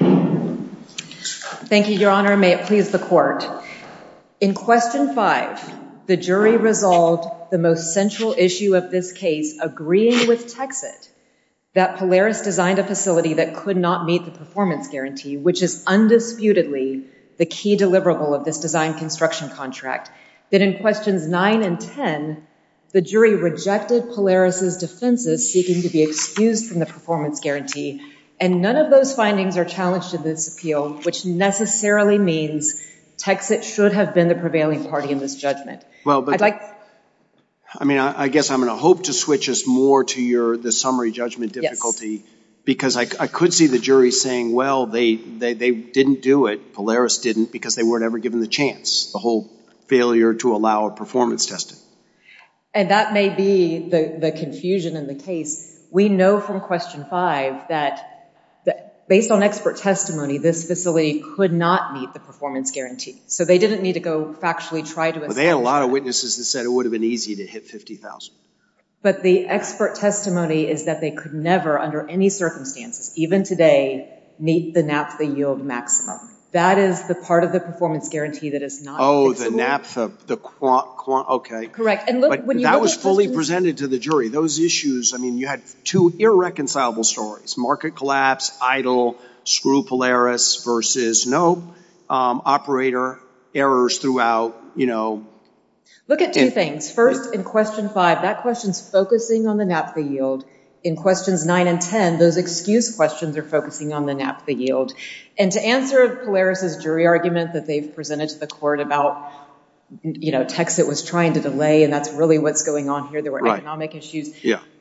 Thank you, Your Honor. May it please the court. In Question 5, the jury resolved the most central issue of this case, agreeing with TX-IT, that Polaris designed a facility that could not meet the performance guarantee, which is undisputedly the key deliverable of this design-construction contract, that in Questions 9 and 10, the jury rejected Polaris' defenses seeking to be excused from the performance guarantee, and none of those findings are challenged in this appeal, which necessarily means TX-IT should have been the prevailing party in this judgment. I guess I'm going to hope to switch us more to the summary judgment difficulty, because I could see the jury saying, well, they didn't do it, Polaris didn't, because they weren't ever given the chance, the whole failure to allow a performance testing. And that may be the confusion in the case. We know from Question 5 that, based on expert testimony, this facility could not meet the performance guarantee. So they didn't need to go factually try to establish that. Well, they had a lot of witnesses that said it would have been easy to hit $50,000. But the expert testimony is that they could never, under any circumstances, even today, meet the NAPFA yield maximum. That is the part of the performance guarantee that is not included. Oh, the NAPFA, the quant, quant, okay. Correct. But that was fully presented to the jury. Those issues, I mean, you had two irreconcilable stories, market collapse, idle, screw Polaris versus no, operator, errors throughout, you know. Look at two things. First, in Question 5, that question is focusing on the NAPFA yield. In Questions 9 and 10, those excuse questions are focusing on the NAPFA yield. And to answer Polaris' jury argument that they've presented to the court about, you know, that's really what's going on here, there were economic issues.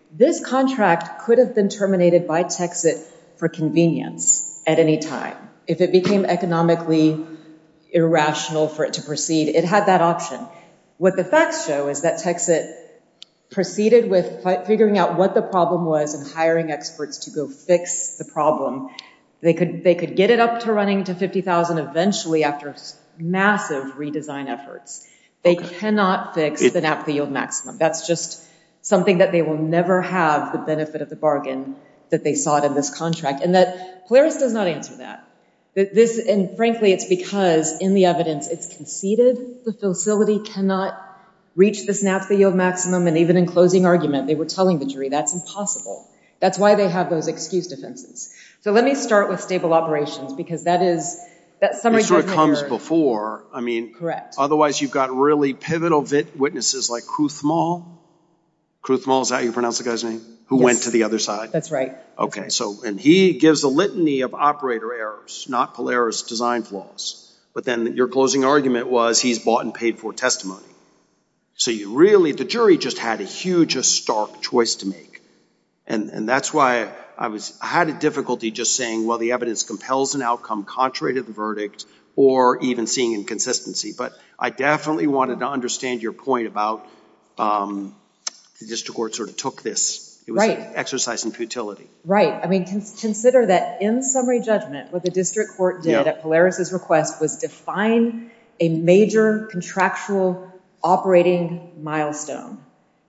This contract could have been terminated by TXIT for convenience at any time. If it became economically irrational for it to proceed, it had that option. What the facts show is that TXIT proceeded with figuring out what the problem was and hiring experts to go fix the problem. They could get it up to running to $50,000 eventually after massive redesign efforts. They cannot fix the NAPFA yield maximum. That's just something that they will never have, the benefit of the bargain that they sought in this contract. And that Polaris does not answer that. And, frankly, it's because in the evidence it's conceded the facility cannot reach this NAPFA yield maximum. And even in closing argument, they were telling the jury that's impossible. That's why they have those excuse defenses. So let me start with stable operations because that is that summary judgment. Correct. Otherwise, you've got really pivotal witnesses like Kruthmal. Kruthmal, is that how you pronounce the guy's name, who went to the other side? That's right. And he gives a litany of operator errors, not Polaris design flaws. But then your closing argument was he's bought and paid for testimony. So the jury just had a huge, stark choice to make. And that's why I had difficulty just saying, well, the evidence compels an outcome contrary to the verdict or even seeing inconsistency. But I definitely wanted to understand your point about the district court sort of took this. It was an exercise in futility. Right. I mean, consider that in summary judgment what the district court did at Polaris' request was define a major contractual operating milestone.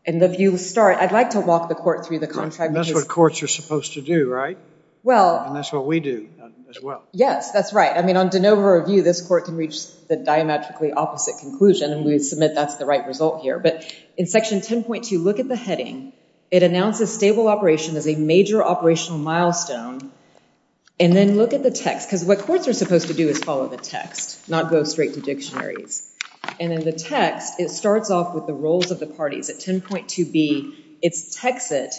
And if you start, I'd like to walk the court through the contract. That's what courts are supposed to do, right? Well. And that's what we do as well. Yes, that's right. I mean, on de novo review, this court can reach the diametrically opposite conclusion. And we would submit that's the right result here. But in section 10.2, look at the heading. It announces stable operation as a major operational milestone. And then look at the text. Because what courts are supposed to do is follow the text, not go straight to dictionaries. And in the text, it starts off with the roles of the parties. At 10.2b, it's Texit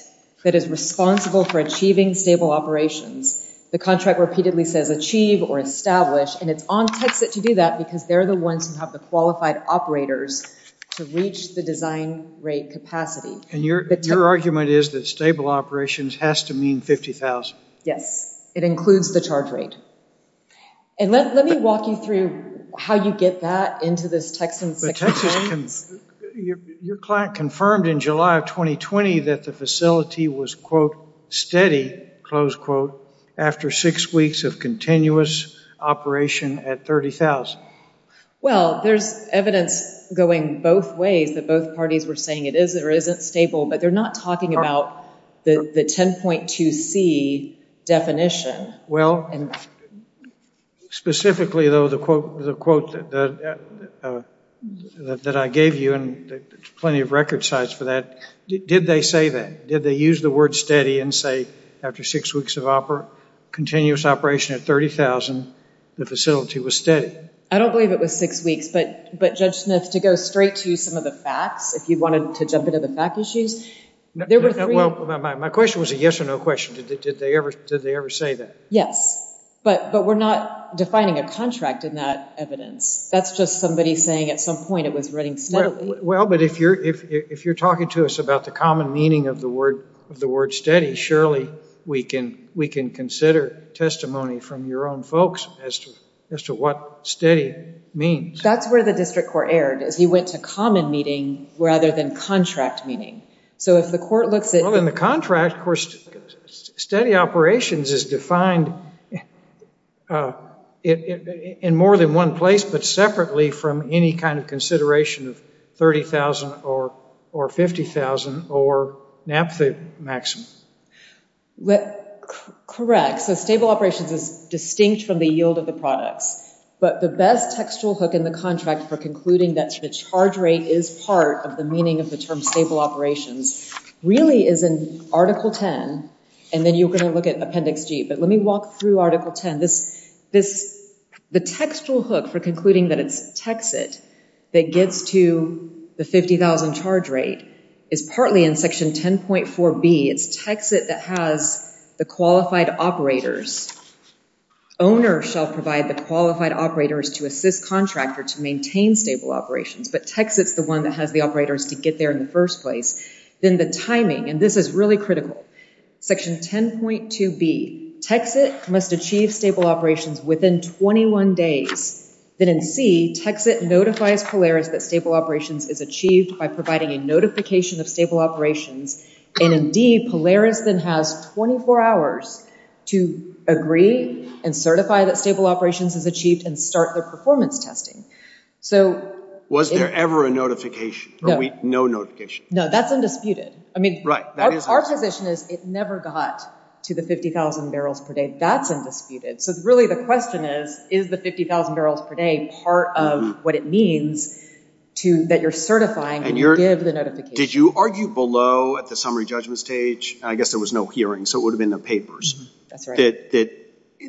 that is responsible for achieving stable operations. The contract repeatedly says achieve or establish. And it's on Texit to do that because they're the ones who have the qualified operators to reach the design rate capacity. And your argument is that stable operations has to mean 50,000. Yes. It includes the charge rate. And let me walk you through how you get that into this text in section 10. Your client confirmed in July of 2020 that the facility was, quote, steady, close quote, after six weeks of continuous operation at 30,000. Well, there's evidence going both ways that both parties were saying it is or isn't stable. But they're not talking about the 10.2c definition. Well, specifically, though, the quote that I gave you, and there's plenty of record sites for that, did they say that? Did they use the word steady and say after six weeks of continuous operation at 30,000, the facility was steady? I don't believe it was six weeks. But, Judge Smith, to go straight to some of the facts, if you wanted to jump into the fact issues, there were three. My question was a yes or no question. Did they ever say that? Yes. But we're not defining a contract in that evidence. That's just somebody saying at some point it was running steadily. Well, but if you're talking to us about the common meaning of the word steady, surely we can consider testimony from your own folks as to what steady means. That's where the district court erred, is he went to common meaning rather than contract meaning. Well, in the contract, steady operations is defined in more than one place, but separately from any kind of consideration of 30,000 or 50,000 or naphtha maximum. Correct. So stable operations is distinct from the yield of the products. But the best textual hook in the contract for concluding that the charge rate is part of the meaning of the term stable operations really is in Article 10, and then you're going to look at Appendix G. But let me walk through Article 10. The textual hook for concluding that it's TEXIT that gets to the 50,000 charge rate is partly in Section 10.4B. It's TEXIT that has the qualified operators. Owner shall provide the qualified operators to assist contractor to maintain stable operations. But TEXIT's the one that has the operators to get there in the first place. Then the timing, and this is really critical, Section 10.2B, TEXIT must achieve stable operations within 21 days. Then in C, TEXIT notifies Polaris that stable operations is achieved by providing a notification of stable operations. And in D, Polaris then has 24 hours to agree and certify that stable operations is achieved and start the performance testing. Was there ever a notification or no notification? No, that's undisputed. Our position is it never got to the 50,000 barrels per day. That's undisputed. So really the question is, is the 50,000 barrels per day part of what it means that you're certifying and you give the notification? Did you argue below at the summary judgment stage? I guess there was no hearing, so it would have been the papers. That's right.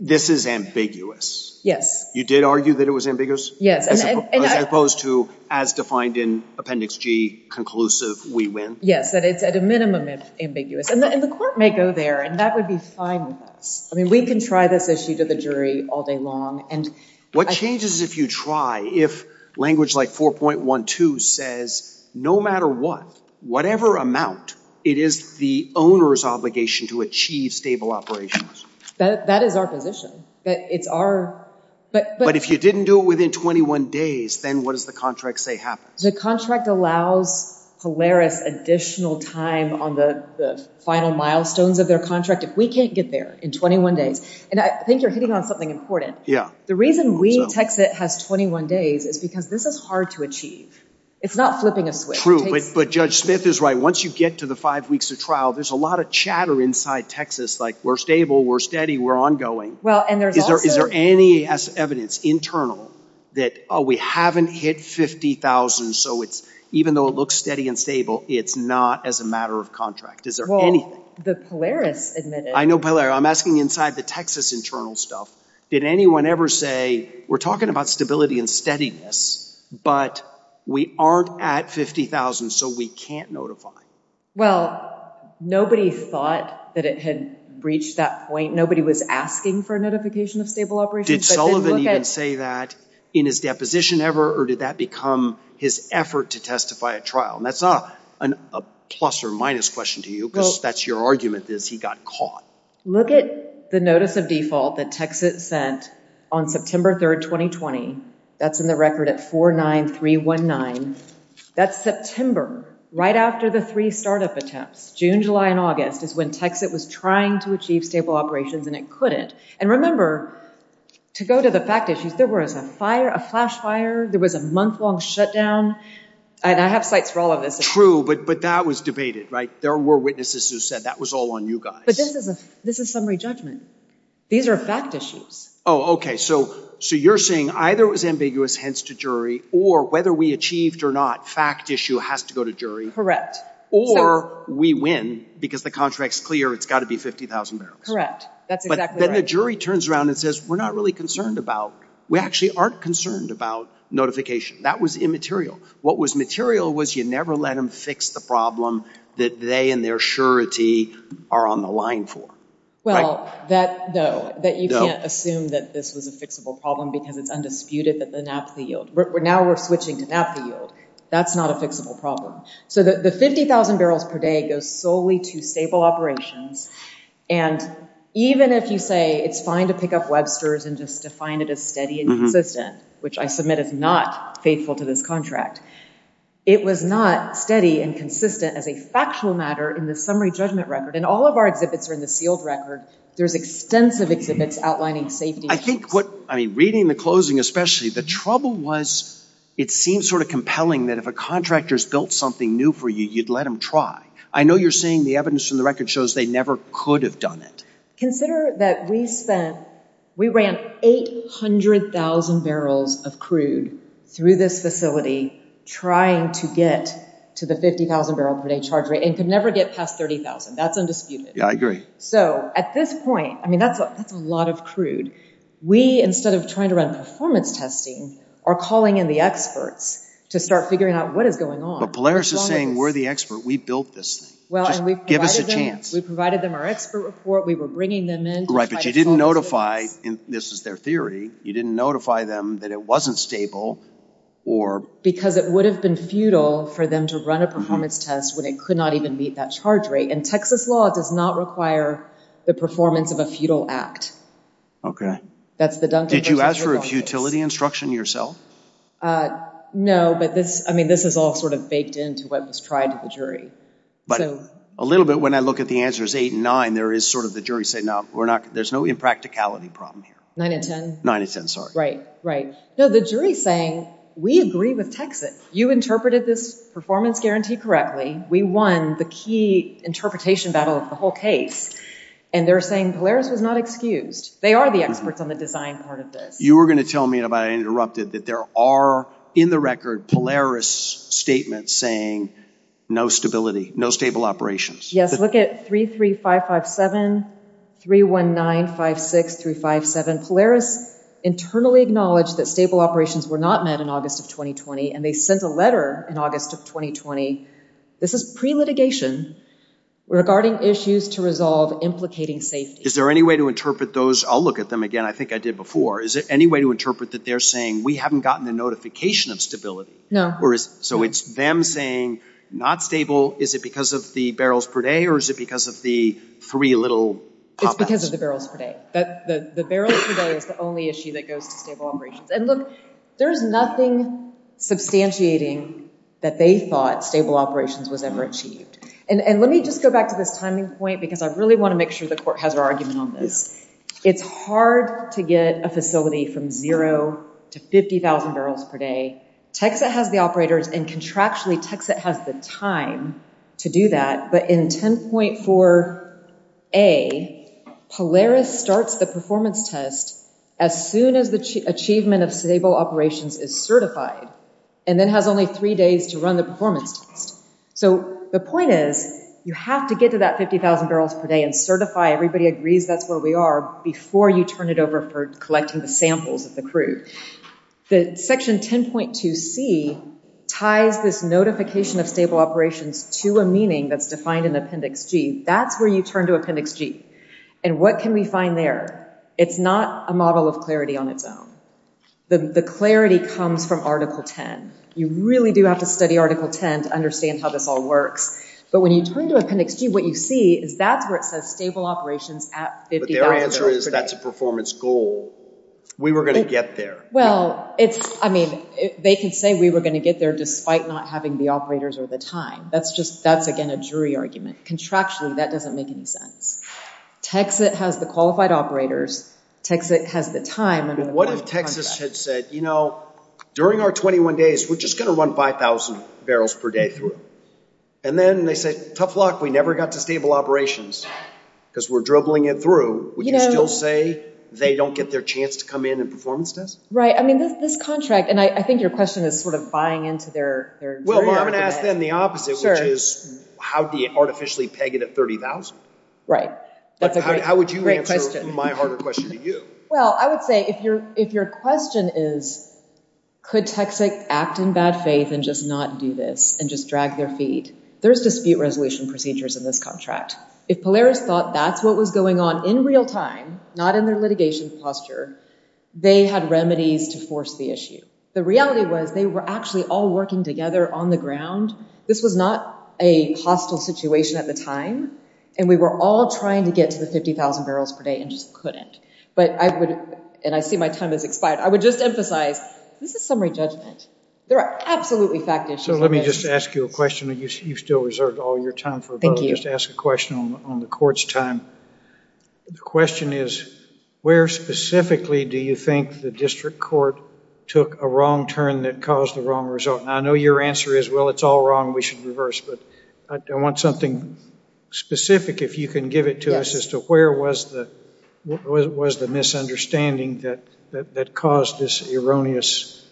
This is ambiguous. Yes. You did argue that it was ambiguous? Yes. As opposed to, as defined in Appendix G, conclusive, we win? Yes, that it's at a minimum ambiguous. And the court may go there, and that would be fine with us. I mean, we can try this issue to the jury all day long. What changes if you try, if language like 4.12 says, no matter what, whatever amount, it is the owner's obligation to achieve stable operations? That is our position. But if you didn't do it within 21 days, then what does the contract say happens? The contract allows Polaris additional time on the final milestones of their contract. If we can't get there in 21 days, and I think you're hitting on something important. The reason we text it has 21 days is because this is hard to achieve. It's not flipping a switch. True, but Judge Smith is right. Once you get to the five weeks of trial, there's a lot of chatter inside Texas, like we're stable, we're steady, we're ongoing. Is there any evidence internal that we haven't hit 50,000, so even though it looks steady and stable, it's not as a matter of contract? Is there anything? Well, the Polaris admitted. I know Polaris. I'm asking inside the Texas internal stuff. Did anyone ever say, we're talking about stability and steadiness, but we aren't at 50,000, so we can't notify? Well, nobody thought that it had reached that point. Nobody was asking for a notification of stable operations. Did Sullivan even say that in his deposition ever, or did that become his effort to testify at trial? And that's not a plus or minus question to you, because that's your argument is he got caught. Look at the notice of default that Texas sent on September 3rd, 2020. That's in the record at 49319. That's September, right after the three startup attempts, June, July, and August is when Texas was trying to achieve stable operations, and it couldn't. And remember, to go to the fact issues, there was a fire, a flash fire. There was a month-long shutdown. And I have sites for all of this. True, but that was debated, right? There were witnesses who said that was all on you guys. But this is summary judgment. These are fact issues. Oh, okay. So you're saying either it was ambiguous, hence to jury, or whether we achieved or not, fact issue has to go to jury. Correct. Or we win because the contract's clear. It's got to be 50,000 barrels. That's exactly right. But then the jury turns around and says, we're not really concerned about, we actually aren't concerned about notification. That was immaterial. What was material was you never let them fix the problem that they and their surety are on the line for. Well, no, that you can't assume that this was a fixable problem because it's undisputed that the naphtha yield. Now we're switching to naphtha yield. That's not a fixable problem. So the 50,000 barrels per day goes solely to stable operations. And even if you say it's fine to pick up Webster's and just define it as steady and consistent, which I submit is not faithful to this contract, it was not steady and consistent as a factual matter in the summary judgment record. And all of our exhibits are in the sealed record. There's extensive exhibits outlining safety issues. I think what, I mean, reading the closing especially, the trouble was it seemed sort of compelling that if a contractor's built something new for you, you'd let them try. I know you're saying the evidence from the record shows they never could have done it. Consider that we spent, we ran 800,000 barrels of crude through this facility trying to get to the 50,000 barrel per day charge rate and could never get past 30,000. That's undisputed. Yeah, I agree. So at this point, I mean, that's a lot of crude. We, instead of trying to run performance testing, or calling in the experts to start figuring out what is going on. But Polaris is saying we're the expert. We built this thing. Just give us a chance. We provided them our expert report. We were bringing them in. Right, but you didn't notify, and this is their theory, you didn't notify them that it wasn't stable or... Because it would have been futile for them to run a performance test when it could not even meet that charge rate. And Texas law does not require the performance of a futile act. Okay. Did you ask for a futility instruction yourself? No, but this, I mean, this is all sort of baked into what was tried to the jury. But a little bit when I look at the answers 8 and 9, there is sort of the jury saying, no, we're not, there's no impracticality problem here. 9 and 10. 9 and 10, sorry. Right, right. No, the jury is saying, we agree with Texas. You interpreted this performance guarantee correctly. We won the key interpretation battle of the whole case. And they're saying Polaris was not excused. They are the experts on the design part of this. You were going to tell me, and I interrupted, that there are, in the record, Polaris statements saying no stability, no stable operations. Yes, look at 33557, 31956-357. Polaris internally acknowledged that stable operations were not met in August of 2020, and they sent a letter in August of 2020. This is pre-litigation regarding issues to resolve implicating safety. Is there any way to interpret those? I'll look at them again. I think I did before. Is there any way to interpret that they're saying, we haven't gotten a notification of stability? No. So it's them saying, not stable. Is it because of the barrels per day, or is it because of the three little pop-ups? It's because of the barrels per day. The barrels per day is the only issue that goes to stable operations. And look, there is nothing substantiating that they thought stable operations was ever achieved. And let me just go back to this timing point, because I really want to make sure the court has their argument on this. It's hard to get a facility from zero to 50,000 barrels per day. TXIT has the operators, and contractually, TXIT has the time to do that. But in 10.4a, Polaris starts the performance test as soon as the achievement of stable operations is certified, and then has only three days to run the performance test. So the point is, you have to get to that 50,000 barrels per day and certify everybody agrees that's where we are before you turn it over for collecting the samples of the crew. Section 10.2c ties this notification of stable operations to a meaning that's defined in Appendix G. That's where you turn to Appendix G. And what can we find there? It's not a model of clarity on its own. The clarity comes from Article 10. You really do have to study Article 10 to understand how this all works. But when you turn to Appendix G, what you see is that's where it says stable operations at 50,000 barrels per day. But their answer is that's a performance goal. We were going to get there. Well, I mean, they can say we were going to get there despite not having the operators or the time. That's, again, a jury argument. Contractually, that doesn't make any sense. TXIT has the qualified operators. TXIT has the time. What if Texas had said, you know, during our 21 days, we're just going to run 5,000 barrels per day through? And then they say, tough luck. We never got to stable operations because we're dribbling it through. Would you still say they don't get their chance to come in and performance test? Right, I mean, this contract, and I think your question is sort of buying into their jury argument. Well, I'm going to ask them the opposite, which is how do you artificially peg it at 30,000? Right, that's a great question. How would you answer my harder question to you? Well, I would say if your question is could TXIT act in bad faith and just not do this and just drag their feet, there's dispute resolution procedures in this contract. If Polaris thought that's what was going on in real time, not in their litigation posture, they had remedies to force the issue. The reality was they were actually all working together on the ground. This was not a hostile situation at the time, and we were all trying to get to the 50,000 barrels per day and just couldn't. But I would, and I see my time has expired, I would just emphasize this is summary judgment. There are absolutely fact issues. So let me just ask you a question. You've still reserved all your time for a vote. Thank you. Just ask a question on the court's time. The question is where specifically do you think the district court took a wrong turn that caused the wrong result? And I know your answer is, well, it's all wrong, we should reverse, but I want something specific if you can give it to us as to where was the misunderstanding that caused this erroneous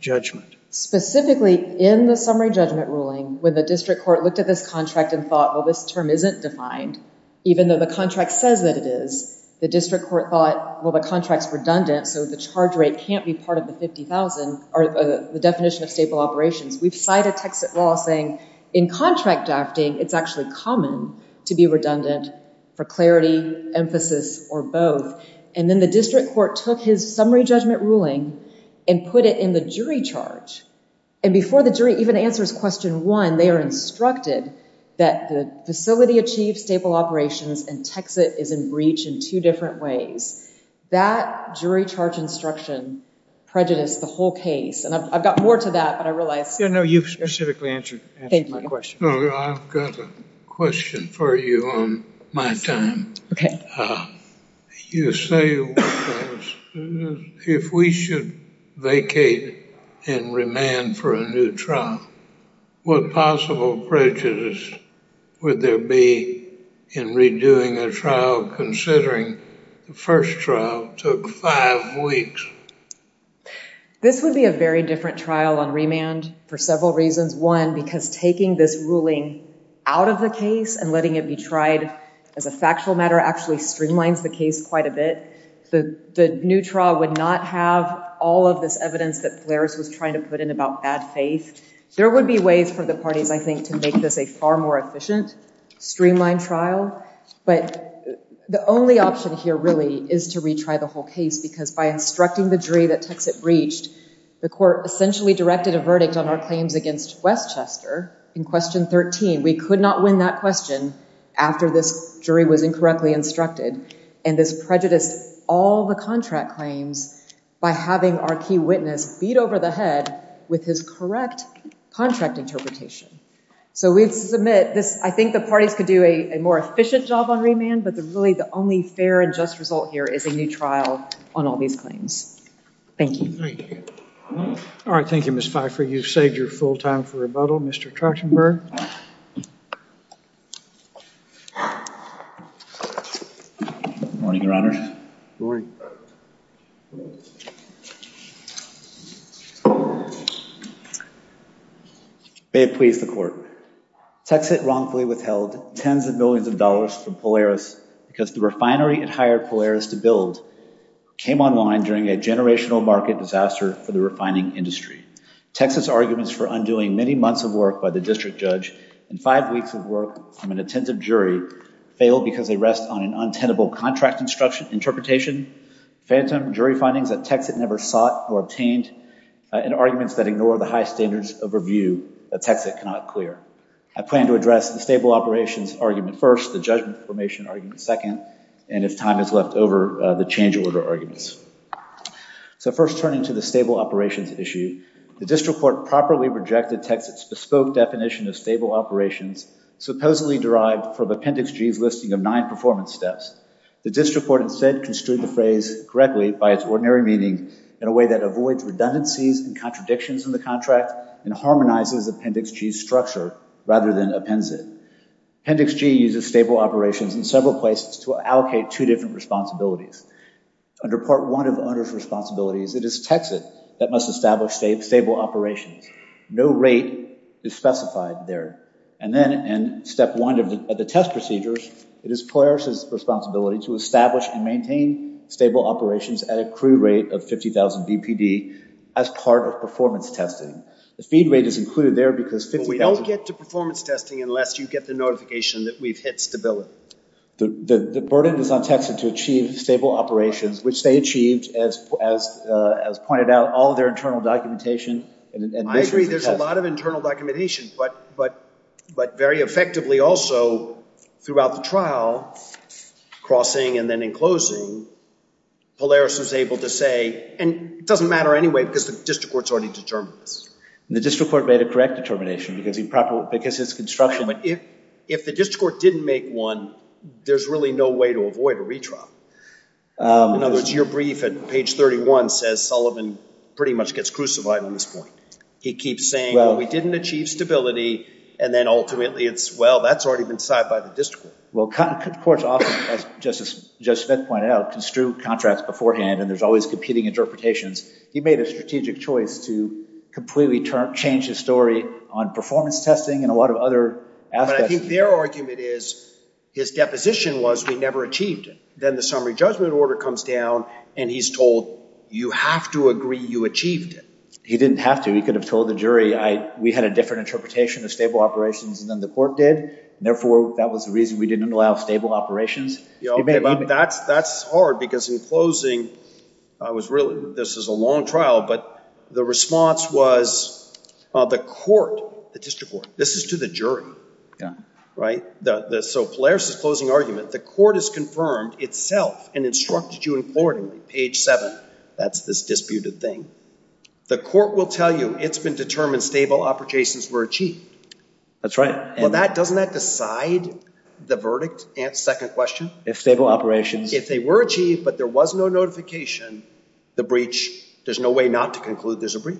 judgment. Specifically, in the summary judgment ruling, when the district court looked at this contract and thought, well, this term isn't defined, even though the contract says that it is, the district court thought, well, the contract's redundant, so the charge rate can't be part of the 50,000, or the definition of staple operations. We've cited Texas law saying in contract drafting, it's actually common to be redundant for clarity, emphasis, or both. And then the district court took his summary judgment ruling and put it in the jury charge. And before the jury even answers question one, they are instructed that the facility achieved staple operations and Texas is in breach in two different ways. That jury charge instruction prejudiced the whole case. And I've got more to that, but I realize. Yeah, no, you specifically answered my question. I've got a question for you on my time. You say if we should vacate and remand for a new trial, what possible prejudice would there be in redoing a trial considering the first trial took five weeks? This would be a very different trial on remand for several reasons. One, because taking this ruling out of the case and letting it be tried as a factual matter actually streamlines the case quite a bit. The new trial would not have all of this evidence that Flores was trying to put in about bad faith. There would be ways for the parties, I think, to make this a far more efficient, streamlined trial. But the only option here really is to retry the whole case because by instructing the jury that Texas breached, the court essentially directed a verdict on our claims against Westchester in question 13. We could not win that question after this jury was incorrectly instructed. And this prejudiced all the contract claims by having our key witness beat over the head with his correct contract interpretation. So we'd submit this. I think the parties could do a more efficient job on remand, but really the only fair and just result here is a new trial on all these claims. Thank you. Thank you. All right. Thank you, Ms. Pfeiffer. You've saved your full time for rebuttal. Mr. Trachtenberg. Morning, Your Honor. Morning. May it please the court. Texas wrongfully withheld tens of billions of dollars from Polaris because the refinery it hired Polaris to build came online during a generational market disaster for the refining industry. Texas' arguments for undoing many months of work by the district judge and five weeks of work from an attentive jury failed because they rest on an untenable contract interpretation, phantom jury findings that Texit never sought or obtained, and arguments that ignore the high standards of review that Texit cannot clear. I plan to address the stable operations argument first, the judgment formation argument second, and if time is left over, the change order arguments. So first turning to the stable operations issue, the district court properly rejected Texit's bespoke definition of stable operations supposedly derived from Appendix G's listing of nine performance steps. The district court instead construed the phrase correctly by its ordinary meaning in a way that avoids redundancies and contradictions in the contract and harmonizes Appendix G's structure rather than appends it. Appendix G uses stable operations in several places to allocate two different responsibilities. Under Part 1 of owner's responsibilities, it is Texit that must establish stable operations. No rate is specified there. And then in Step 1 of the test procedures, it is Polaris' responsibility to establish and maintain stable operations at a crew rate of 50,000 BPD as part of performance testing. The feed rate is included there because 50,000... But we don't get to performance testing unless you get the notification that we've hit stability. The burden is on Texit to achieve stable operations, which they achieved, as pointed out, all of their internal documentation... I agree, there's a lot of internal documentation, but very effectively also throughout the trial, crossing and then enclosing, Polaris was able to say... And it doesn't matter anyway because the district court's already determined this. The district court made a correct determination because his construction... If the district court didn't make one, there's really no way to avoid a retrial. In other words, your brief at page 31 says Sullivan pretty much gets crucified on this point. He keeps saying, well, we didn't achieve stability, and then ultimately it's, well, that's already been decided by the district court. Well, courts often, as Justice Smith pointed out, construe contracts beforehand, and there's always competing interpretations. He made a strategic choice to completely change his story on performance testing and a lot of other aspects. But I think their argument is, his deposition was, we never achieved it. Then the summary judgment order comes down, and he's told, you have to agree you achieved it. He didn't have to. He could have told the jury, we had a different interpretation of stable operations than the court did, and therefore that was the reason we didn't allow stable operations. Okay, but that's hard because in closing, this is a long trial, but the response was the court, the district court, this is to the jury, right? So Pilaris' closing argument, the court has confirmed itself and instructed you accordingly, page 7. That's this disputed thing. The court will tell you it's been determined stable operations were achieved. That's right. Well, doesn't that decide the verdict? Second question? If stable operations... If they were achieved, but there was no notification, the breach, there's no way not to conclude there's a breach.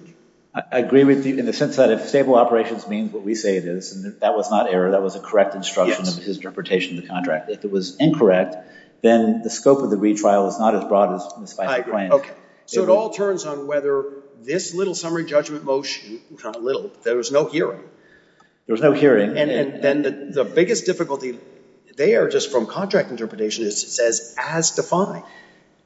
I agree with you in the sense that if stable operations means what we say it is, and that was not error, that was a correct instruction of his interpretation of the contract. If it was incorrect, then the scope of the retrial is not as broad as the Spicer claim. Okay, so it all turns on whether this little summary judgment motion, little, there was no hearing. There was no hearing. And then the biggest difficulty there, just from contract interpretation, is it says as defined.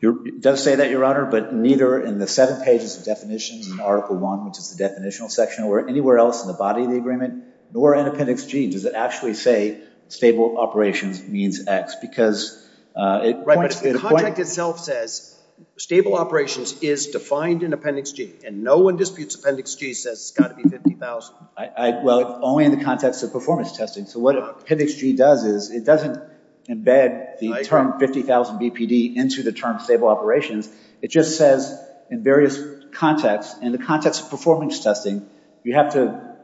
It does say that, Your Honor, but neither in the seven pages of definitions in Article I, which is the definitional section, or anywhere else in the body of the agreement, nor in Appendix G, does it actually say stable operations means X, because it points to the point... Right, but if the contract itself says stable operations is defined in Appendix G, and no one disputes Appendix G says it's got to be 50,000... Well, only in the context of performance testing. So what Appendix G does is it doesn't embed the term 50,000 BPD into the term stable operations. It just says in various contexts, in the context of performance testing, you have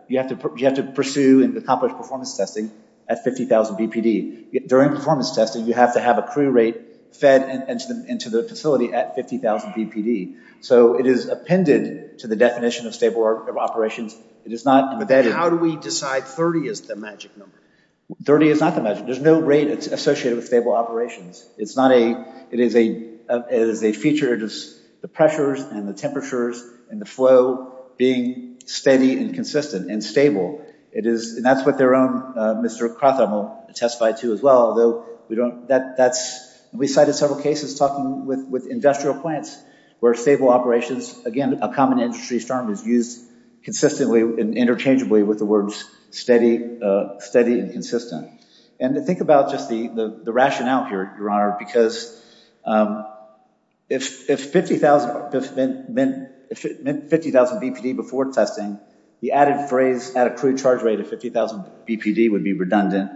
to pursue and accomplish performance testing at 50,000 BPD. During performance testing, you have to have a crew rate fed into the facility at 50,000 BPD. So it is appended to the definition of stable operations. It is not embedded... How do we decide 30 is the magic number? 30 is not the magic number. There's no rate associated with stable operations. It's not a... It is a feature, just the pressures and the temperatures and the flow being steady and consistent and stable. It is... And that's what their own Mr. Krathamo testified to as well, although we don't... That's... We cited several cases talking with industrial plants where stable operations, again, a common industry term is used consistently and interchangeably with the words steady and consistent. And to think about just the rationale here, Your Honor, because if 50,000... If it meant 50,000 BPD before testing, the added phrase at a crew charge rate of 50,000 BPD would be redundant.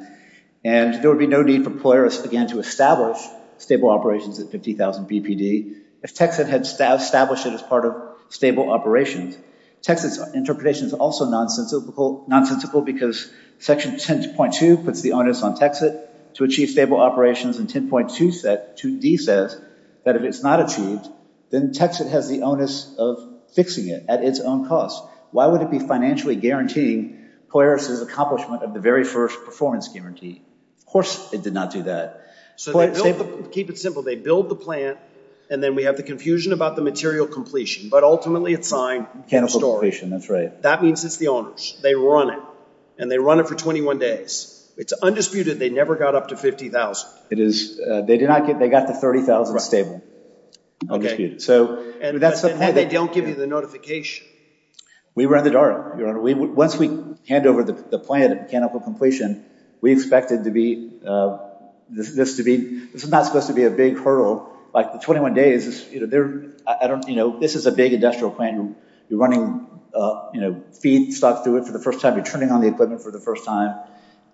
And there would be no need for Polaris, again, to establish stable operations at 50,000 BPD. If Texas had established it as part of stable operations, Texas interpretation is also nonsensical because Section 10.2 puts the onus on Texas to achieve stable operations. And 10.2D says that if it's not achieved, then Texas has the onus of fixing it at its own cost. Why would it be financially guaranteeing Polaris' accomplishment of the very first performance guarantee? Of course it did not do that. So they built the... Keep it simple. They built the plant, and then we have the confusion about the material completion, but ultimately it's fine. Mechanical completion, that's right. That means it's the owner's. They run it. And they run it for 21 days. It's undisputed they never got up to 50,000. It is. They got to 30,000 stable. And they don't give you the notification. We were in the dark. Once we hand over the plant at mechanical completion, we expected this to be... This is not supposed to be a big hurdle. The 21 days, this is a big industrial plant. You're running feedstock through it for the first time. You're turning on the equipment for the first time.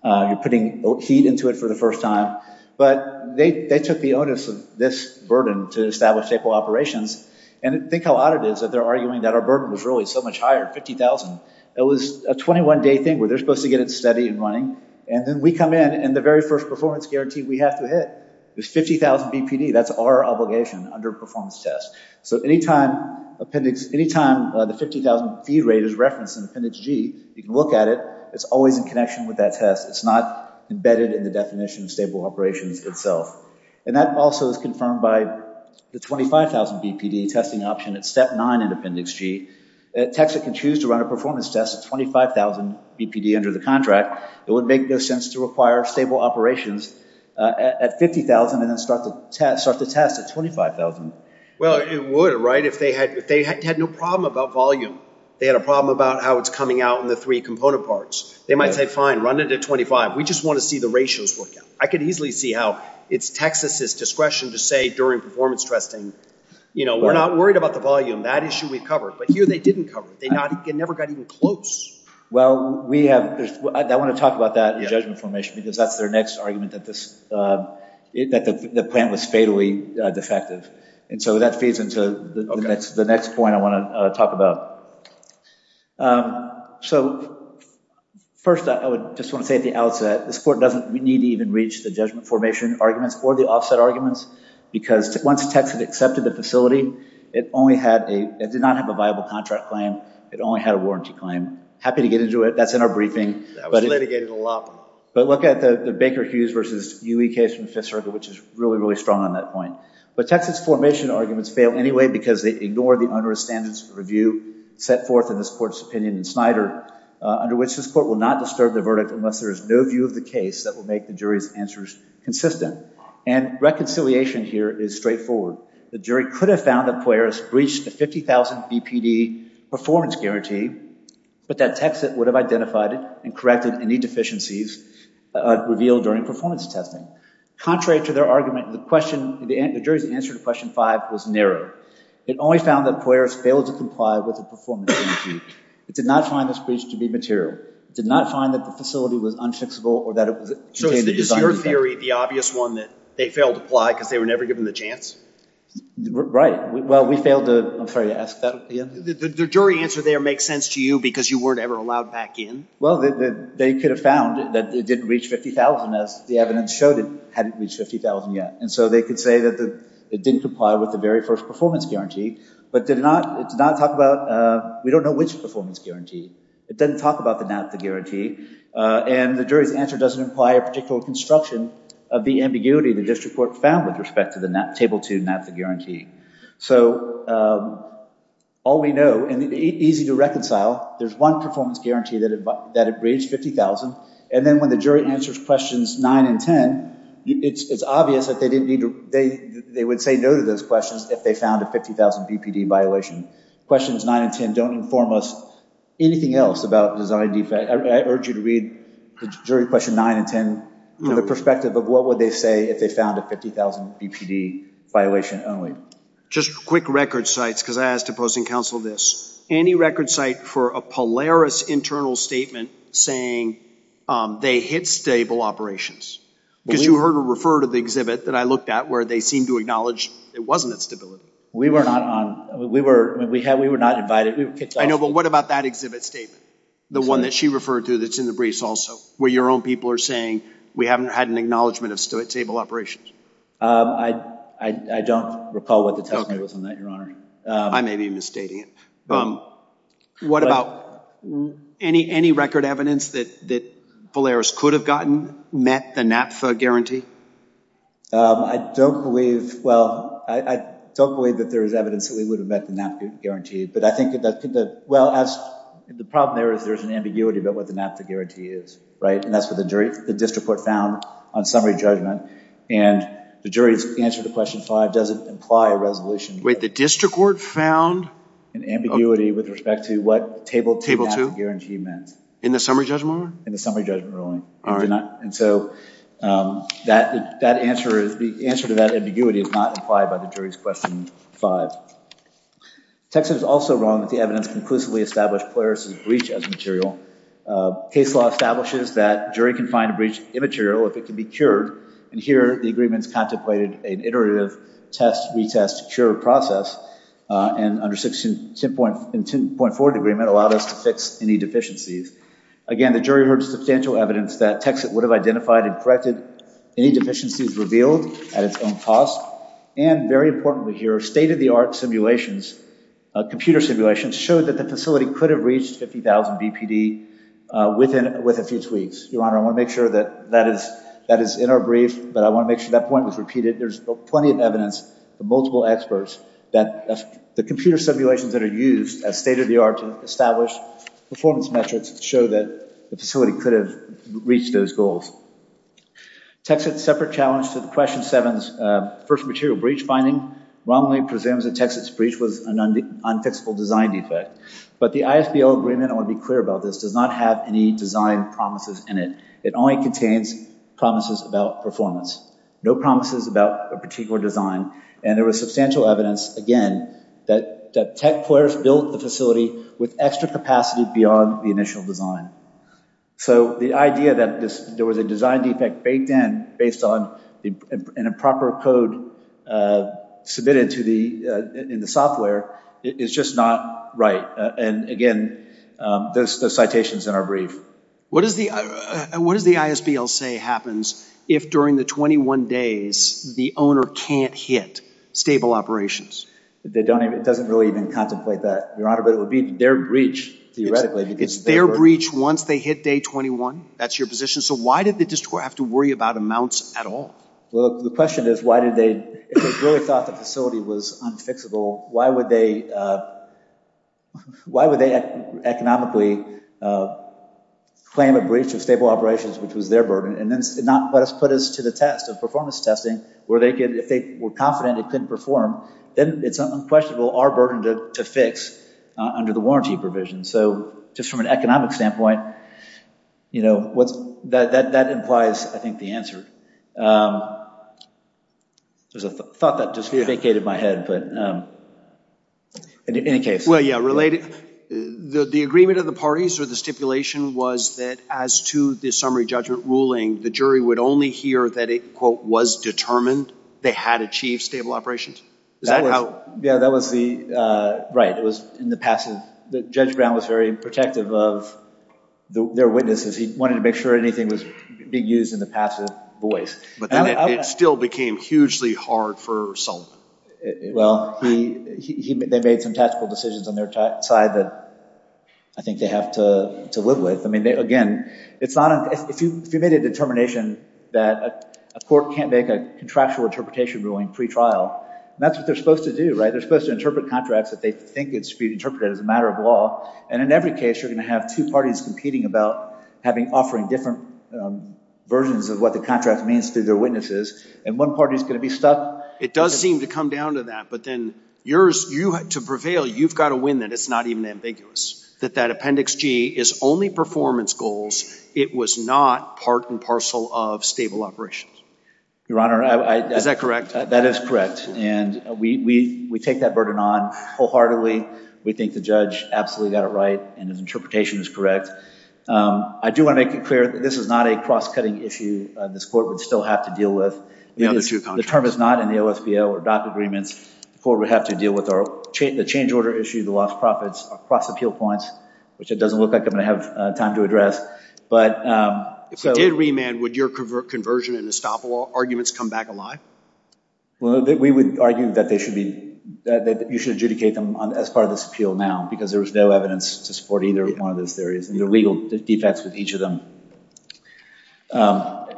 You're putting heat into it for the first time. But they took the onus of this burden to establish staple operations. And think how odd it is that they're arguing that our burden was really so much higher, 50,000. It was a 21-day thing where they're supposed to get it steady and running. And then we come in, and the very first performance guarantee we have to hit is 50,000 BPD. That's our obligation under performance test. So anytime the 50,000 feed rate is referenced in Appendix G, you can look at it. It's always in connection with that test. It's not embedded in the definition of stable operations itself. And that also is confirmed by the 25,000 BPD testing option at Step 9 in Appendix G. A techs that can choose to run a performance test at 25,000 BPD under the contract, it would make no sense to require stable operations at 50,000 and then start the test at 25,000. Well, it would, right, if they had no problem about volume. They had a problem about how it's coming out in the three component parts. They might say, fine, run it at 25. We just want to see the ratios work out. I could easily see how it's Texas' discretion to say during performance testing, you know, we're not worried about the volume. That issue we've covered. But here they didn't cover it. It never got even close. Well, I want to talk about that in judgment formation because that's their next argument that the plant was fatally defective. And so that feeds into the next point I want to talk about. So first I would just want to say at the outset, this Court doesn't need to even reach the judgment formation arguments or the offset arguments because once techs had accepted the facility, it did not have a viable contract claim. It only had a warranty claim. Happy to get into it. That's in our briefing. That was litigated a lot. But look at the Baker-Hughes versus UE case from Fifth Circuit, which is really, really strong on that point. But Texas' formation arguments fail anyway because they ignore the onerous standards of review set forth in this Court's opinion and Snyder, under which this Court will not disturb the verdict unless there is no view of the case that will make the jury's answers consistent. And reconciliation here is straightforward. The jury could have found that Poiris breached the 50,000 BPD performance guarantee, but that Texas would have identified it and corrected any deficiencies revealed during performance testing. Contrary to their argument, the jury's answer to Question 5 was narrow. It only found that Poiris failed to comply with the performance guarantee. It did not find the breach to be material. It did not find that the facility was unfixable or that it contained a design defect. So is your theory the obvious one that they failed to apply because they were never given the chance? Right. Well, we failed to, I'm sorry to ask that again. The jury answer there makes sense to you because you weren't ever allowed back in? Well, they could have found that it didn't reach 50,000 as the evidence showed it hadn't reached 50,000 yet. And so they could say that it didn't comply with the very first performance guarantee but did not talk about, we don't know which performance guarantee. It doesn't talk about the NAFTA guarantee. And the jury's answer doesn't imply a particular construction of the ambiguity the district court found with respect to the table 2 NAFTA guarantee. So all we know, and easy to reconcile, there's one performance guarantee that it reached 50,000. And then when the jury answers questions 9 and 10, it's obvious that they would say no to those questions if they found a 50,000 BPD violation. Questions 9 and 10 don't inform us anything else about design defect. I urge you to read the jury question 9 and 10 from the perspective of what would they say if they found a 50,000 BPD violation only. Just quick record sites because I asked opposing counsel this. Any record site for a Polaris internal statement saying they hit stable operations? Because you heard her refer to the exhibit that I looked at where they seemed to acknowledge it wasn't at stability. We were not invited. I know, but what about that exhibit statement? The one that she referred to that's in the briefs also where your own people are saying we haven't had an acknowledgement of stable operations? I don't recall what the testimony was on that, Your Honor. I may be misstating it. What about any record evidence that Polaris could have gotten met the NAFTA guarantee? I don't believe, well, I don't believe that there is evidence that we would have met the NAFTA guarantee. Well, the problem there is there's an ambiguity about what the NAFTA guarantee is, right? And that's what the district court found on summary judgment. And the jury's answer to question 5 doesn't imply a resolution. Wait, the district court found? An ambiguity with respect to what table 2 NAFTA guarantee meant. In the summary judgment ruling? In the summary judgment ruling. And so the answer to that ambiguity is not implied by the jury's question 5. Texit is also wrong that the evidence conclusively established Polaris' breach as material. Case law establishes that a jury can find a breach immaterial if it can be cured. And here the agreement's contemplated an iterative test-retest-cure process. And under section 10.4 of the agreement allowed us to fix any deficiencies. Again, the jury heard substantial evidence that Texit would have identified and corrected any deficiencies revealed at its own cost. And very importantly here, state-of-the-art simulations, computer simulations, showed that the facility could have reached 50,000 BPD with a few tweaks. Your Honor, I want to make sure that that is in our brief, but I want to make sure that point was repeated. There's plenty of evidence from multiple experts that the computer simulations that are used as state-of-the-art to establish performance metrics show that the facility could have reached those goals. Texit's separate challenge to question 7's first material breach finding wrongly presumes that Texit's breach was an unfixable design defect. But the ISBL agreement, I want to be clear about this, does not have any design promises in it. It only contains promises about performance. No promises about a particular design. And there was substantial evidence, again, that tech players built the facility with extra capacity beyond the initial design. So the idea that there was a design defect baked in based on an improper code submitted in the software is just not right. And again, those citations in our brief. What does the ISBL say happens if during the 21 days the owner can't hit stable operations? It doesn't really even contemplate that, Your Honor, but it would be their breach theoretically. It's their breach once they hit day 21? That's your position? So why did the district court have to worry about amounts at all? Well, the question is, if they really thought the facility was unfixable, why would they economically claim a breach of stable operations, which was their burden? And then let us put this to the test of performance testing where if they were confident it couldn't perform, then it's unquestionable our burden to fix under the warranty provision. So just from an economic standpoint, you know, that implies, I think, the answer. There's a thought that just vacated my head, but in any case. Well, yeah, related. The agreement of the parties or the stipulation was that as to the summary judgment ruling, the jury would only hear that it, quote, was determined they had achieved stable operations? Yeah, that was the right. It was in the passive. Judge Brown was very protective of their witnesses. He wanted to make sure anything was being used in the passive voice. But then it still became hugely hard for Sullivan. Well, they made some tactical decisions on their side that I think they have to live with. I mean, again, if you made a determination that a court can't make a contractual interpretation ruling pretrial, that's what they're supposed to do, right? They're supposed to interpret contracts that they think should be interpreted as a matter of law. And in every case, you're going to have two parties competing about offering different versions of what the contract means to their witnesses. And one party is going to be stuck. It does seem to come down to that. But then to prevail, you've got to win that it's not even ambiguous. That that Appendix G is only performance goals. It was not part and parcel of stable operations. Your Honor, I- Is that correct? That is correct. And we take that burden on wholeheartedly. We think the judge absolutely got it right. And his interpretation is correct. I do want to make it clear that this is not a cross-cutting issue this court would still have to deal with. The other two contracts. The term is not in the OSBO or DOC agreements. The court would have to deal with the change order issue, the lost profits across appeal points, which it doesn't look like I'm going to have time to address. But- If it did remand, would your conversion and estoppel arguments come back alive? Well, we would argue that you should adjudicate them as part of this appeal now because there is no evidence to support either one of those theories. And there are legal defects with each of them. I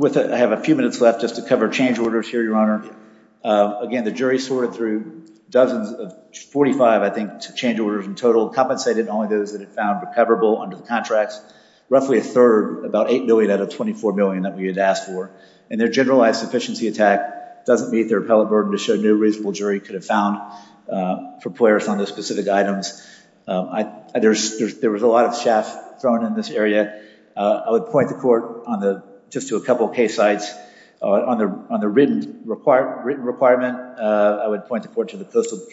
have a few minutes left just to cover change orders here, Your Honor. Again, the jury sorted through dozens of 45, I think, change orders in total, compensated only those that it found recoverable under the contracts. Roughly a third, about $8 million out of $24 million that we had asked for. And their generalized sufficiency attack doesn't meet their appellate burden to show no reasonable jury could have found for players on those specific items. There was a lot of chaff thrown in this area. I would point the court just to a couple of case sites. On the written requirement, I would point the court to the Coastal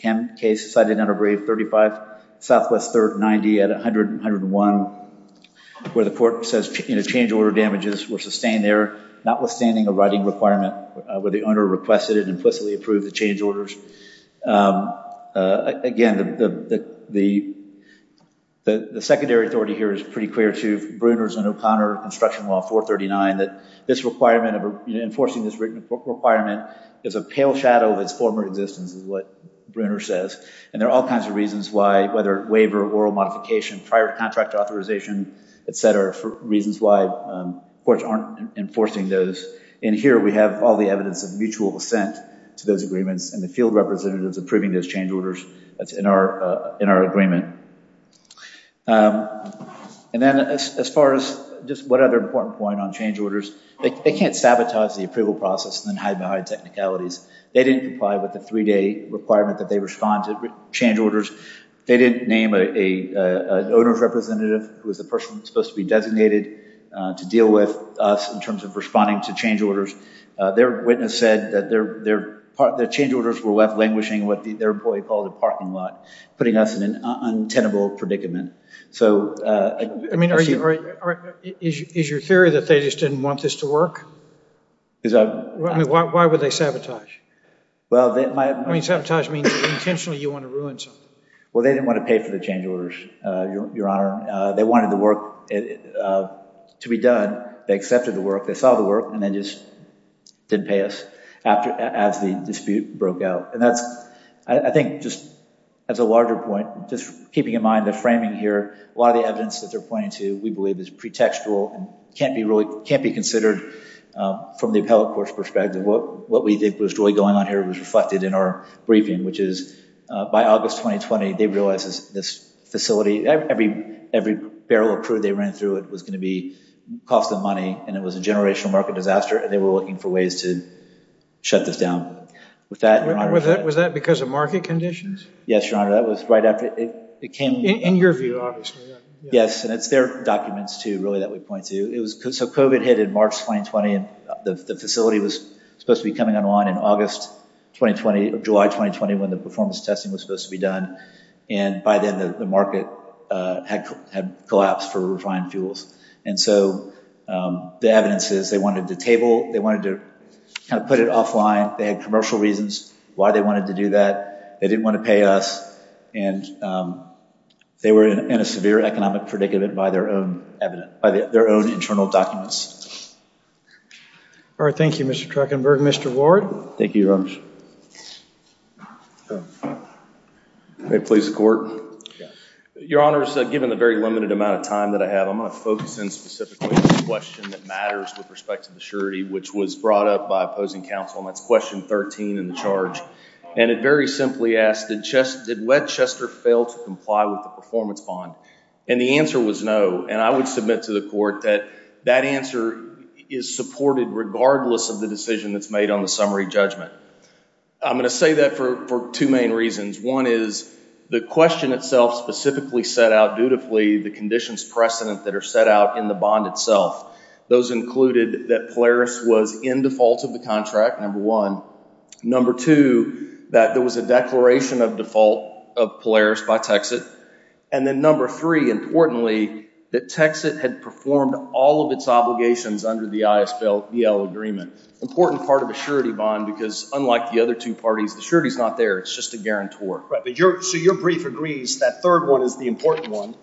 Chem case cited under Brave 35, Southwest 3rd 90 at 100-101, where the court says change order damages were sustained there, notwithstanding a writing requirement where the owner requested it and implicitly approved the change orders. Again, the secondary authority here is pretty clear to Bruner's and O'Connor Construction Law 439 that this requirement of enforcing this written requirement is a pale shadow of its former existence is what Bruner says. And there are all kinds of reasons why, whether waiver, oral modification, prior contract authorization, et cetera, reasons why courts aren't enforcing those. And here we have all the evidence of mutual assent to those agreements and the field representatives approving those change orders that's in our agreement. And then as far as just one other important point on change orders, they can't sabotage the approval process and then hide behind technicalities. They didn't comply with the three-day requirement that they respond to change orders. They didn't name an owner's representative who was the person that was supposed to be designated to deal with us in terms of responding to change orders. Their witness said that their change orders were left languishing in what their employee called a parking lot, putting us in an untenable predicament. Is your theory that they just didn't want this to work? Why would they sabotage? I mean, sabotage means intentionally you want to ruin something. Well, they didn't want to pay for the change orders, Your Honor. They wanted the work to be done. They accepted the work. They saw the work. And they just didn't pay us as the dispute broke out. And that's, I think, just as a larger point, just keeping in mind the framing here, a lot of the evidence that they're pointing to we believe is pretextual and can't be considered from the appellate court's perspective. What we think was really going on here was reflected in our briefing, which is by August 2020, they realized this facility, every barrel of crude they ran through, it was going to be cost of money. And it was a generational market disaster. And they were looking for ways to shut this down. Was that because of market conditions? Yes, Your Honor. That was right after it came. In your view, obviously. Yes. And it's their documents, too, really, that we point to. So COVID hit in March 2020. The facility was supposed to be coming online in August 2020, July 2020, when the performance testing was supposed to be done. And by then, the market had collapsed for refined fuels. And so the evidence is they wanted to table, they wanted to kind of put it offline. They had commercial reasons why they wanted to do that. They didn't want to pay us. And they were in a severe economic predicament by their own internal documents. All right. Thank you, Mr. Truckenberg. Mr. Ward? Thank you, Your Honors. May it please the court? Your Honors, given the very limited amount of time that I have, I'm going to focus in specifically on the question that matters with respect to the surety, which was brought up by opposing counsel. And that's question 13 in the charge. And it very simply asks, did Wettchester fail to comply with the performance bond? And the answer was no. And I would submit to the court that that answer is supported regardless of the decision that's made on the summary judgment. I'm going to say that for two main reasons. One is the question itself specifically set out dutifully the conditions precedent that are set out in the bond itself. Those included that Polaris was in default of the contract, number one. Number two, that there was a declaration of default of Polaris by Texit. And then number three, importantly, that Texit had performed all of its obligations under the ISBL agreement. Important part of a surety bond because unlike the other two parties, the surety is not there. It's just a guarantor. Right. So your brief agrees that third one is the important one.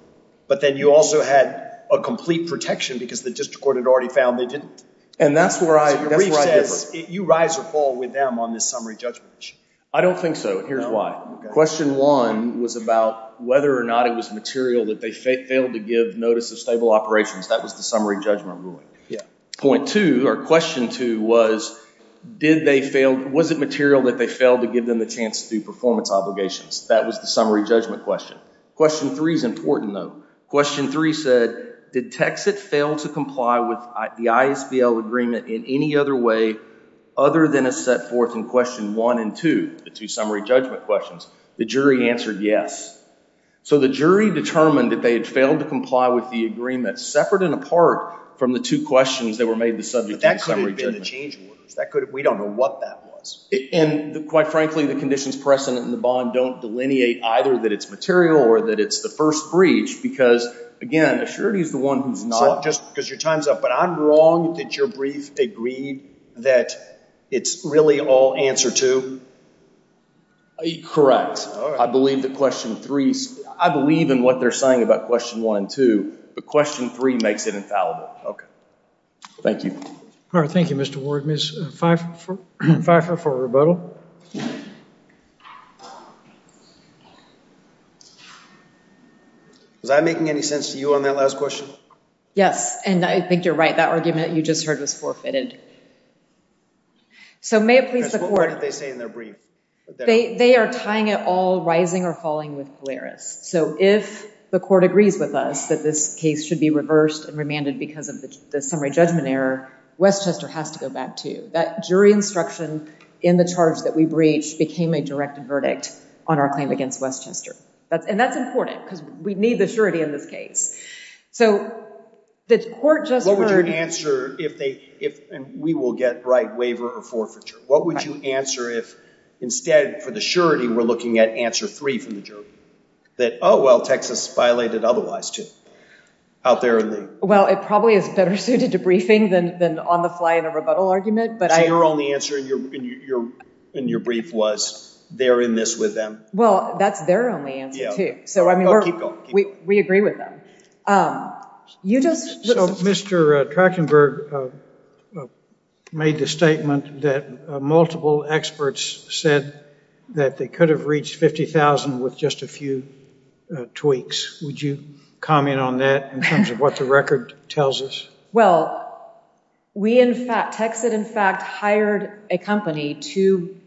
But then you also had a complete protection because the district court had already found they didn't. And that's where I differ. You rise or fall with them on this summary judgment issue. I don't think so, and here's why. Question one was about whether or not it was material that they failed to give notice of stable operations. That was the summary judgment ruling. Point two, or question two, was did they fail, was it material that they failed to give them the chance to do performance obligations? That was the summary judgment question. Question three is important, though. Question three said, did Texit fail to comply with the ISBL agreement in any other way other than as set forth in question one and two, the two summary judgment questions? The jury answered yes. So the jury determined that they had failed to comply with the agreement separate and apart from the two questions that were made the subject of the summary judgment. But that could have been the change orders. We don't know what that was. And quite frankly, the conditions present in the bond don't delineate either that it's material or that it's the first breach because, again, a surety is the one who's not. Just because your time's up, but I'm wrong that your brief agreed that it's really all answer two? Correct. All right. I believe that question three, I believe in what they're saying about question one and two, but question three makes it infallible. Okay. Thank you. All right, thank you, Mr. Ward. Ms. Pfeiffer for rebuttal. Was I making any sense to you on that last question? Yes, and I think you're right. That argument you just heard was forfeited. So may it please the court. What did they say in their brief? They are tying it all rising or falling with Polaris. So if the court agrees with us that this case should be reversed and remanded because of the summary judgment error, Westchester has to go back to. That jury instruction in the charge that we breached became a direct verdict on our claim against Westchester. And that's important because we need the surety in this case. So the court just heard— What would your answer if they—and we will get right waiver or forfeiture. What would you answer if instead for the surety we're looking at answer three from the jury? That, oh, well, Texas violated otherwise, too, out there in the— Well, it probably is better suited to briefing than on the fly in a rebuttal argument. So your only answer in your brief was they're in this with them? Well, that's their only answer, too. So, I mean, we agree with them. You just— So Mr. Trachtenberg made the statement that multiple experts said that they could have reached 50,000 with just a few tweaks. Would you comment on that in terms of what the record tells us? Well, we in fact—Texas, in fact, hired a company to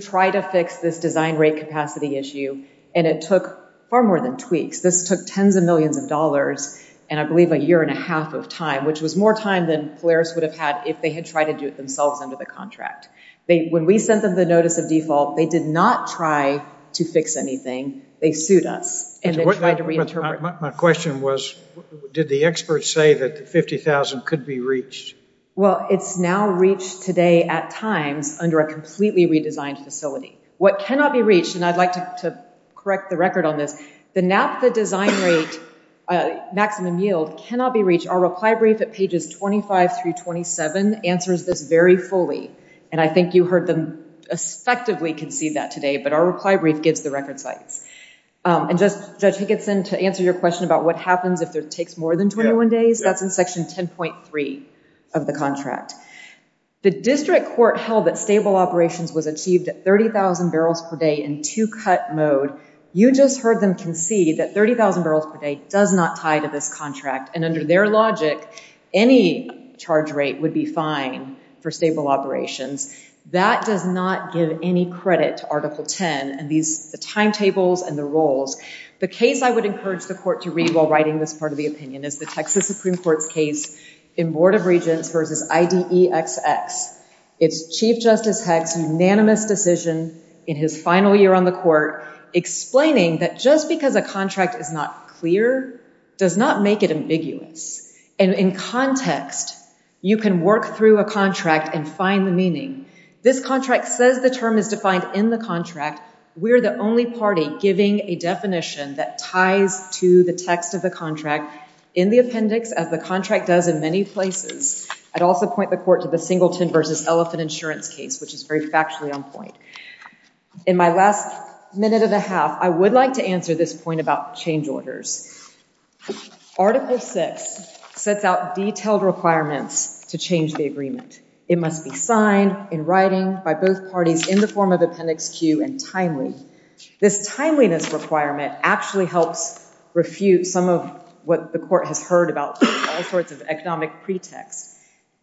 try to fix this design rate capacity issue, and it took far more than tweaks. This took tens of millions of dollars and I believe a year and a half of time, which was more time than Polaris would have had if they had tried to do it themselves under the contract. When we sent them the notice of default, they did not try to fix anything. They sued us, and they tried to— My question was did the experts say that the 50,000 could be reached? Well, it's now reached today at times under a completely redesigned facility. What cannot be reached—and I'd like to correct the record on this. The NAPDA design rate maximum yield cannot be reached. Our reply brief at pages 25 through 27 answers this very fully, and I think you heard them effectively concede that today, but our reply brief gives the record sites. And just, Judge Higginson, to answer your question about what happens if it takes more than 21 days, that's in section 10.3 of the contract. The district court held that stable operations was achieved at 30,000 barrels per day in two-cut mode. You just heard them concede that 30,000 barrels per day does not tie to this contract, and under their logic, any charge rate would be fine for stable operations. That does not give any credit to Article 10 and the timetables and the rules. The case I would encourage the court to read while writing this part of the opinion is the Texas Supreme Court's case in Board of Regents v. IDEXX. It's Chief Justice Heck's unanimous decision in his final year on the court explaining that just because a contract is not clear does not make it ambiguous. And in context, you can work through a contract and find the meaning. This contract says the term is defined in the contract. We're the only party giving a definition that ties to the text of the contract in the appendix, as the contract does in many places. I'd also point the court to the Singleton v. Elephant Insurance case, which is very factually on point. In my last minute and a half, I would like to answer this point about change orders. Article 6 sets out detailed requirements to change the agreement. It must be signed in writing by both parties in the form of Appendix Q and timely. This timeliness requirement actually helps refute some of what the court has heard about all sorts of economic pretexts.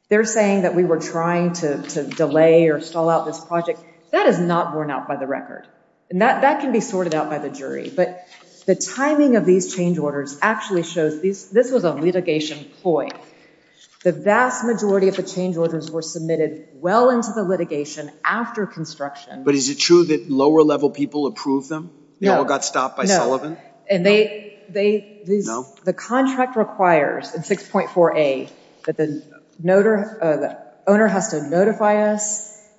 They're saying that we were trying to delay or stall out this project. That is not borne out by the record. And that can be sorted out by the jury. But the timing of these change orders actually shows this was a litigation ploy. The vast majority of the change orders were submitted well into the litigation after construction. But is it true that lower-level people approved them? No. They all got stopped by Sullivan? No. The contract requires in 6.4a that the owner has to notify us,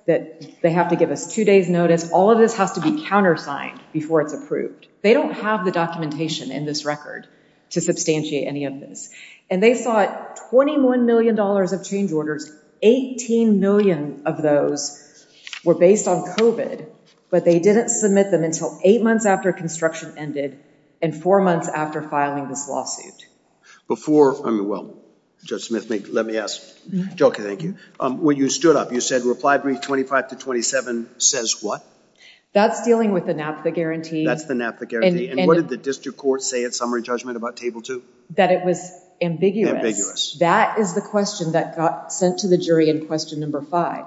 that they have to give us two days' notice. All of this has to be countersigned before it's approved. They don't have the documentation in this record to substantiate any of this. And they sought $21 million of change orders. 18 million of those were based on COVID. But they didn't submit them until eight months after construction ended and four months after filing this lawsuit. Before, I mean, well, Judge Smith, let me ask. Joe, thank you. When you stood up, you said reply brief 25 to 27 says what? That's dealing with the NAFTA guarantee. That's the NAFTA guarantee. And what did the district court say at summary judgment about Table 2? That it was ambiguous. That is the question that got sent to the jury in question number five.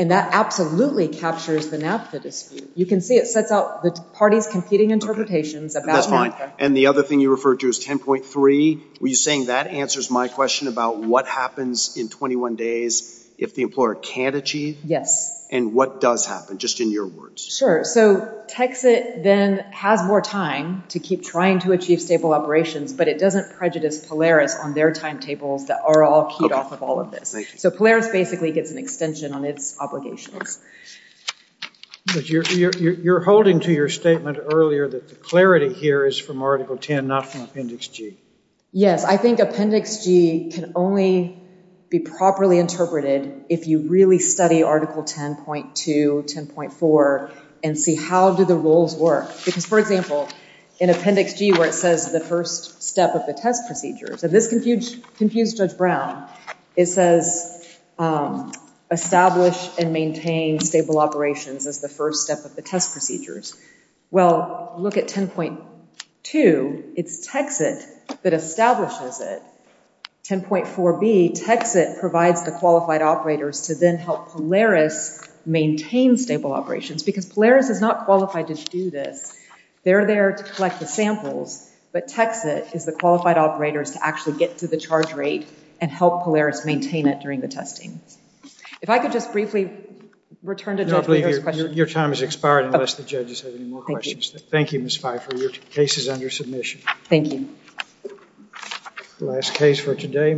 And that absolutely captures the NAFTA dispute. You can see it sets out the parties' competing interpretations about NAFTA. That's fine. And the other thing you referred to is 10.3. Were you saying that answers my question about what happens in 21 days if the employer can't achieve? Yes. And what does happen, just in your words? Sure. So TXIT then has more time to keep trying to achieve stable operations, but it doesn't prejudice Polaris on their timetables that are all keyed off of all of this. So Polaris basically gets an extension on its obligations. But you're holding to your statement earlier that the clarity here is from Article 10, not from Appendix G. Yes. I think Appendix G can only be properly interpreted if you really study Article 10.2, 10.4, and see how do the rules work. Because, for example, in Appendix G where it says the first step of the test procedures, and this confused Judge Brown, it says establish and maintain stable operations as the first step of the test procedures. Well, look at 10.2. It's TXIT that establishes it. 10.4b, TXIT provides the qualified operators to then help Polaris maintain stable operations because Polaris is not qualified to do this. They're there to collect the samples, but TXIT is the qualified operators to actually get to the charge rate and help Polaris maintain it during the testing. If I could just briefly return to Judge Brewer's question. Your time has expired unless the judges have any more questions. Thank you. Thank you, Ms. Pfeiffer. Your case is under submission. Thank you. Last case for today.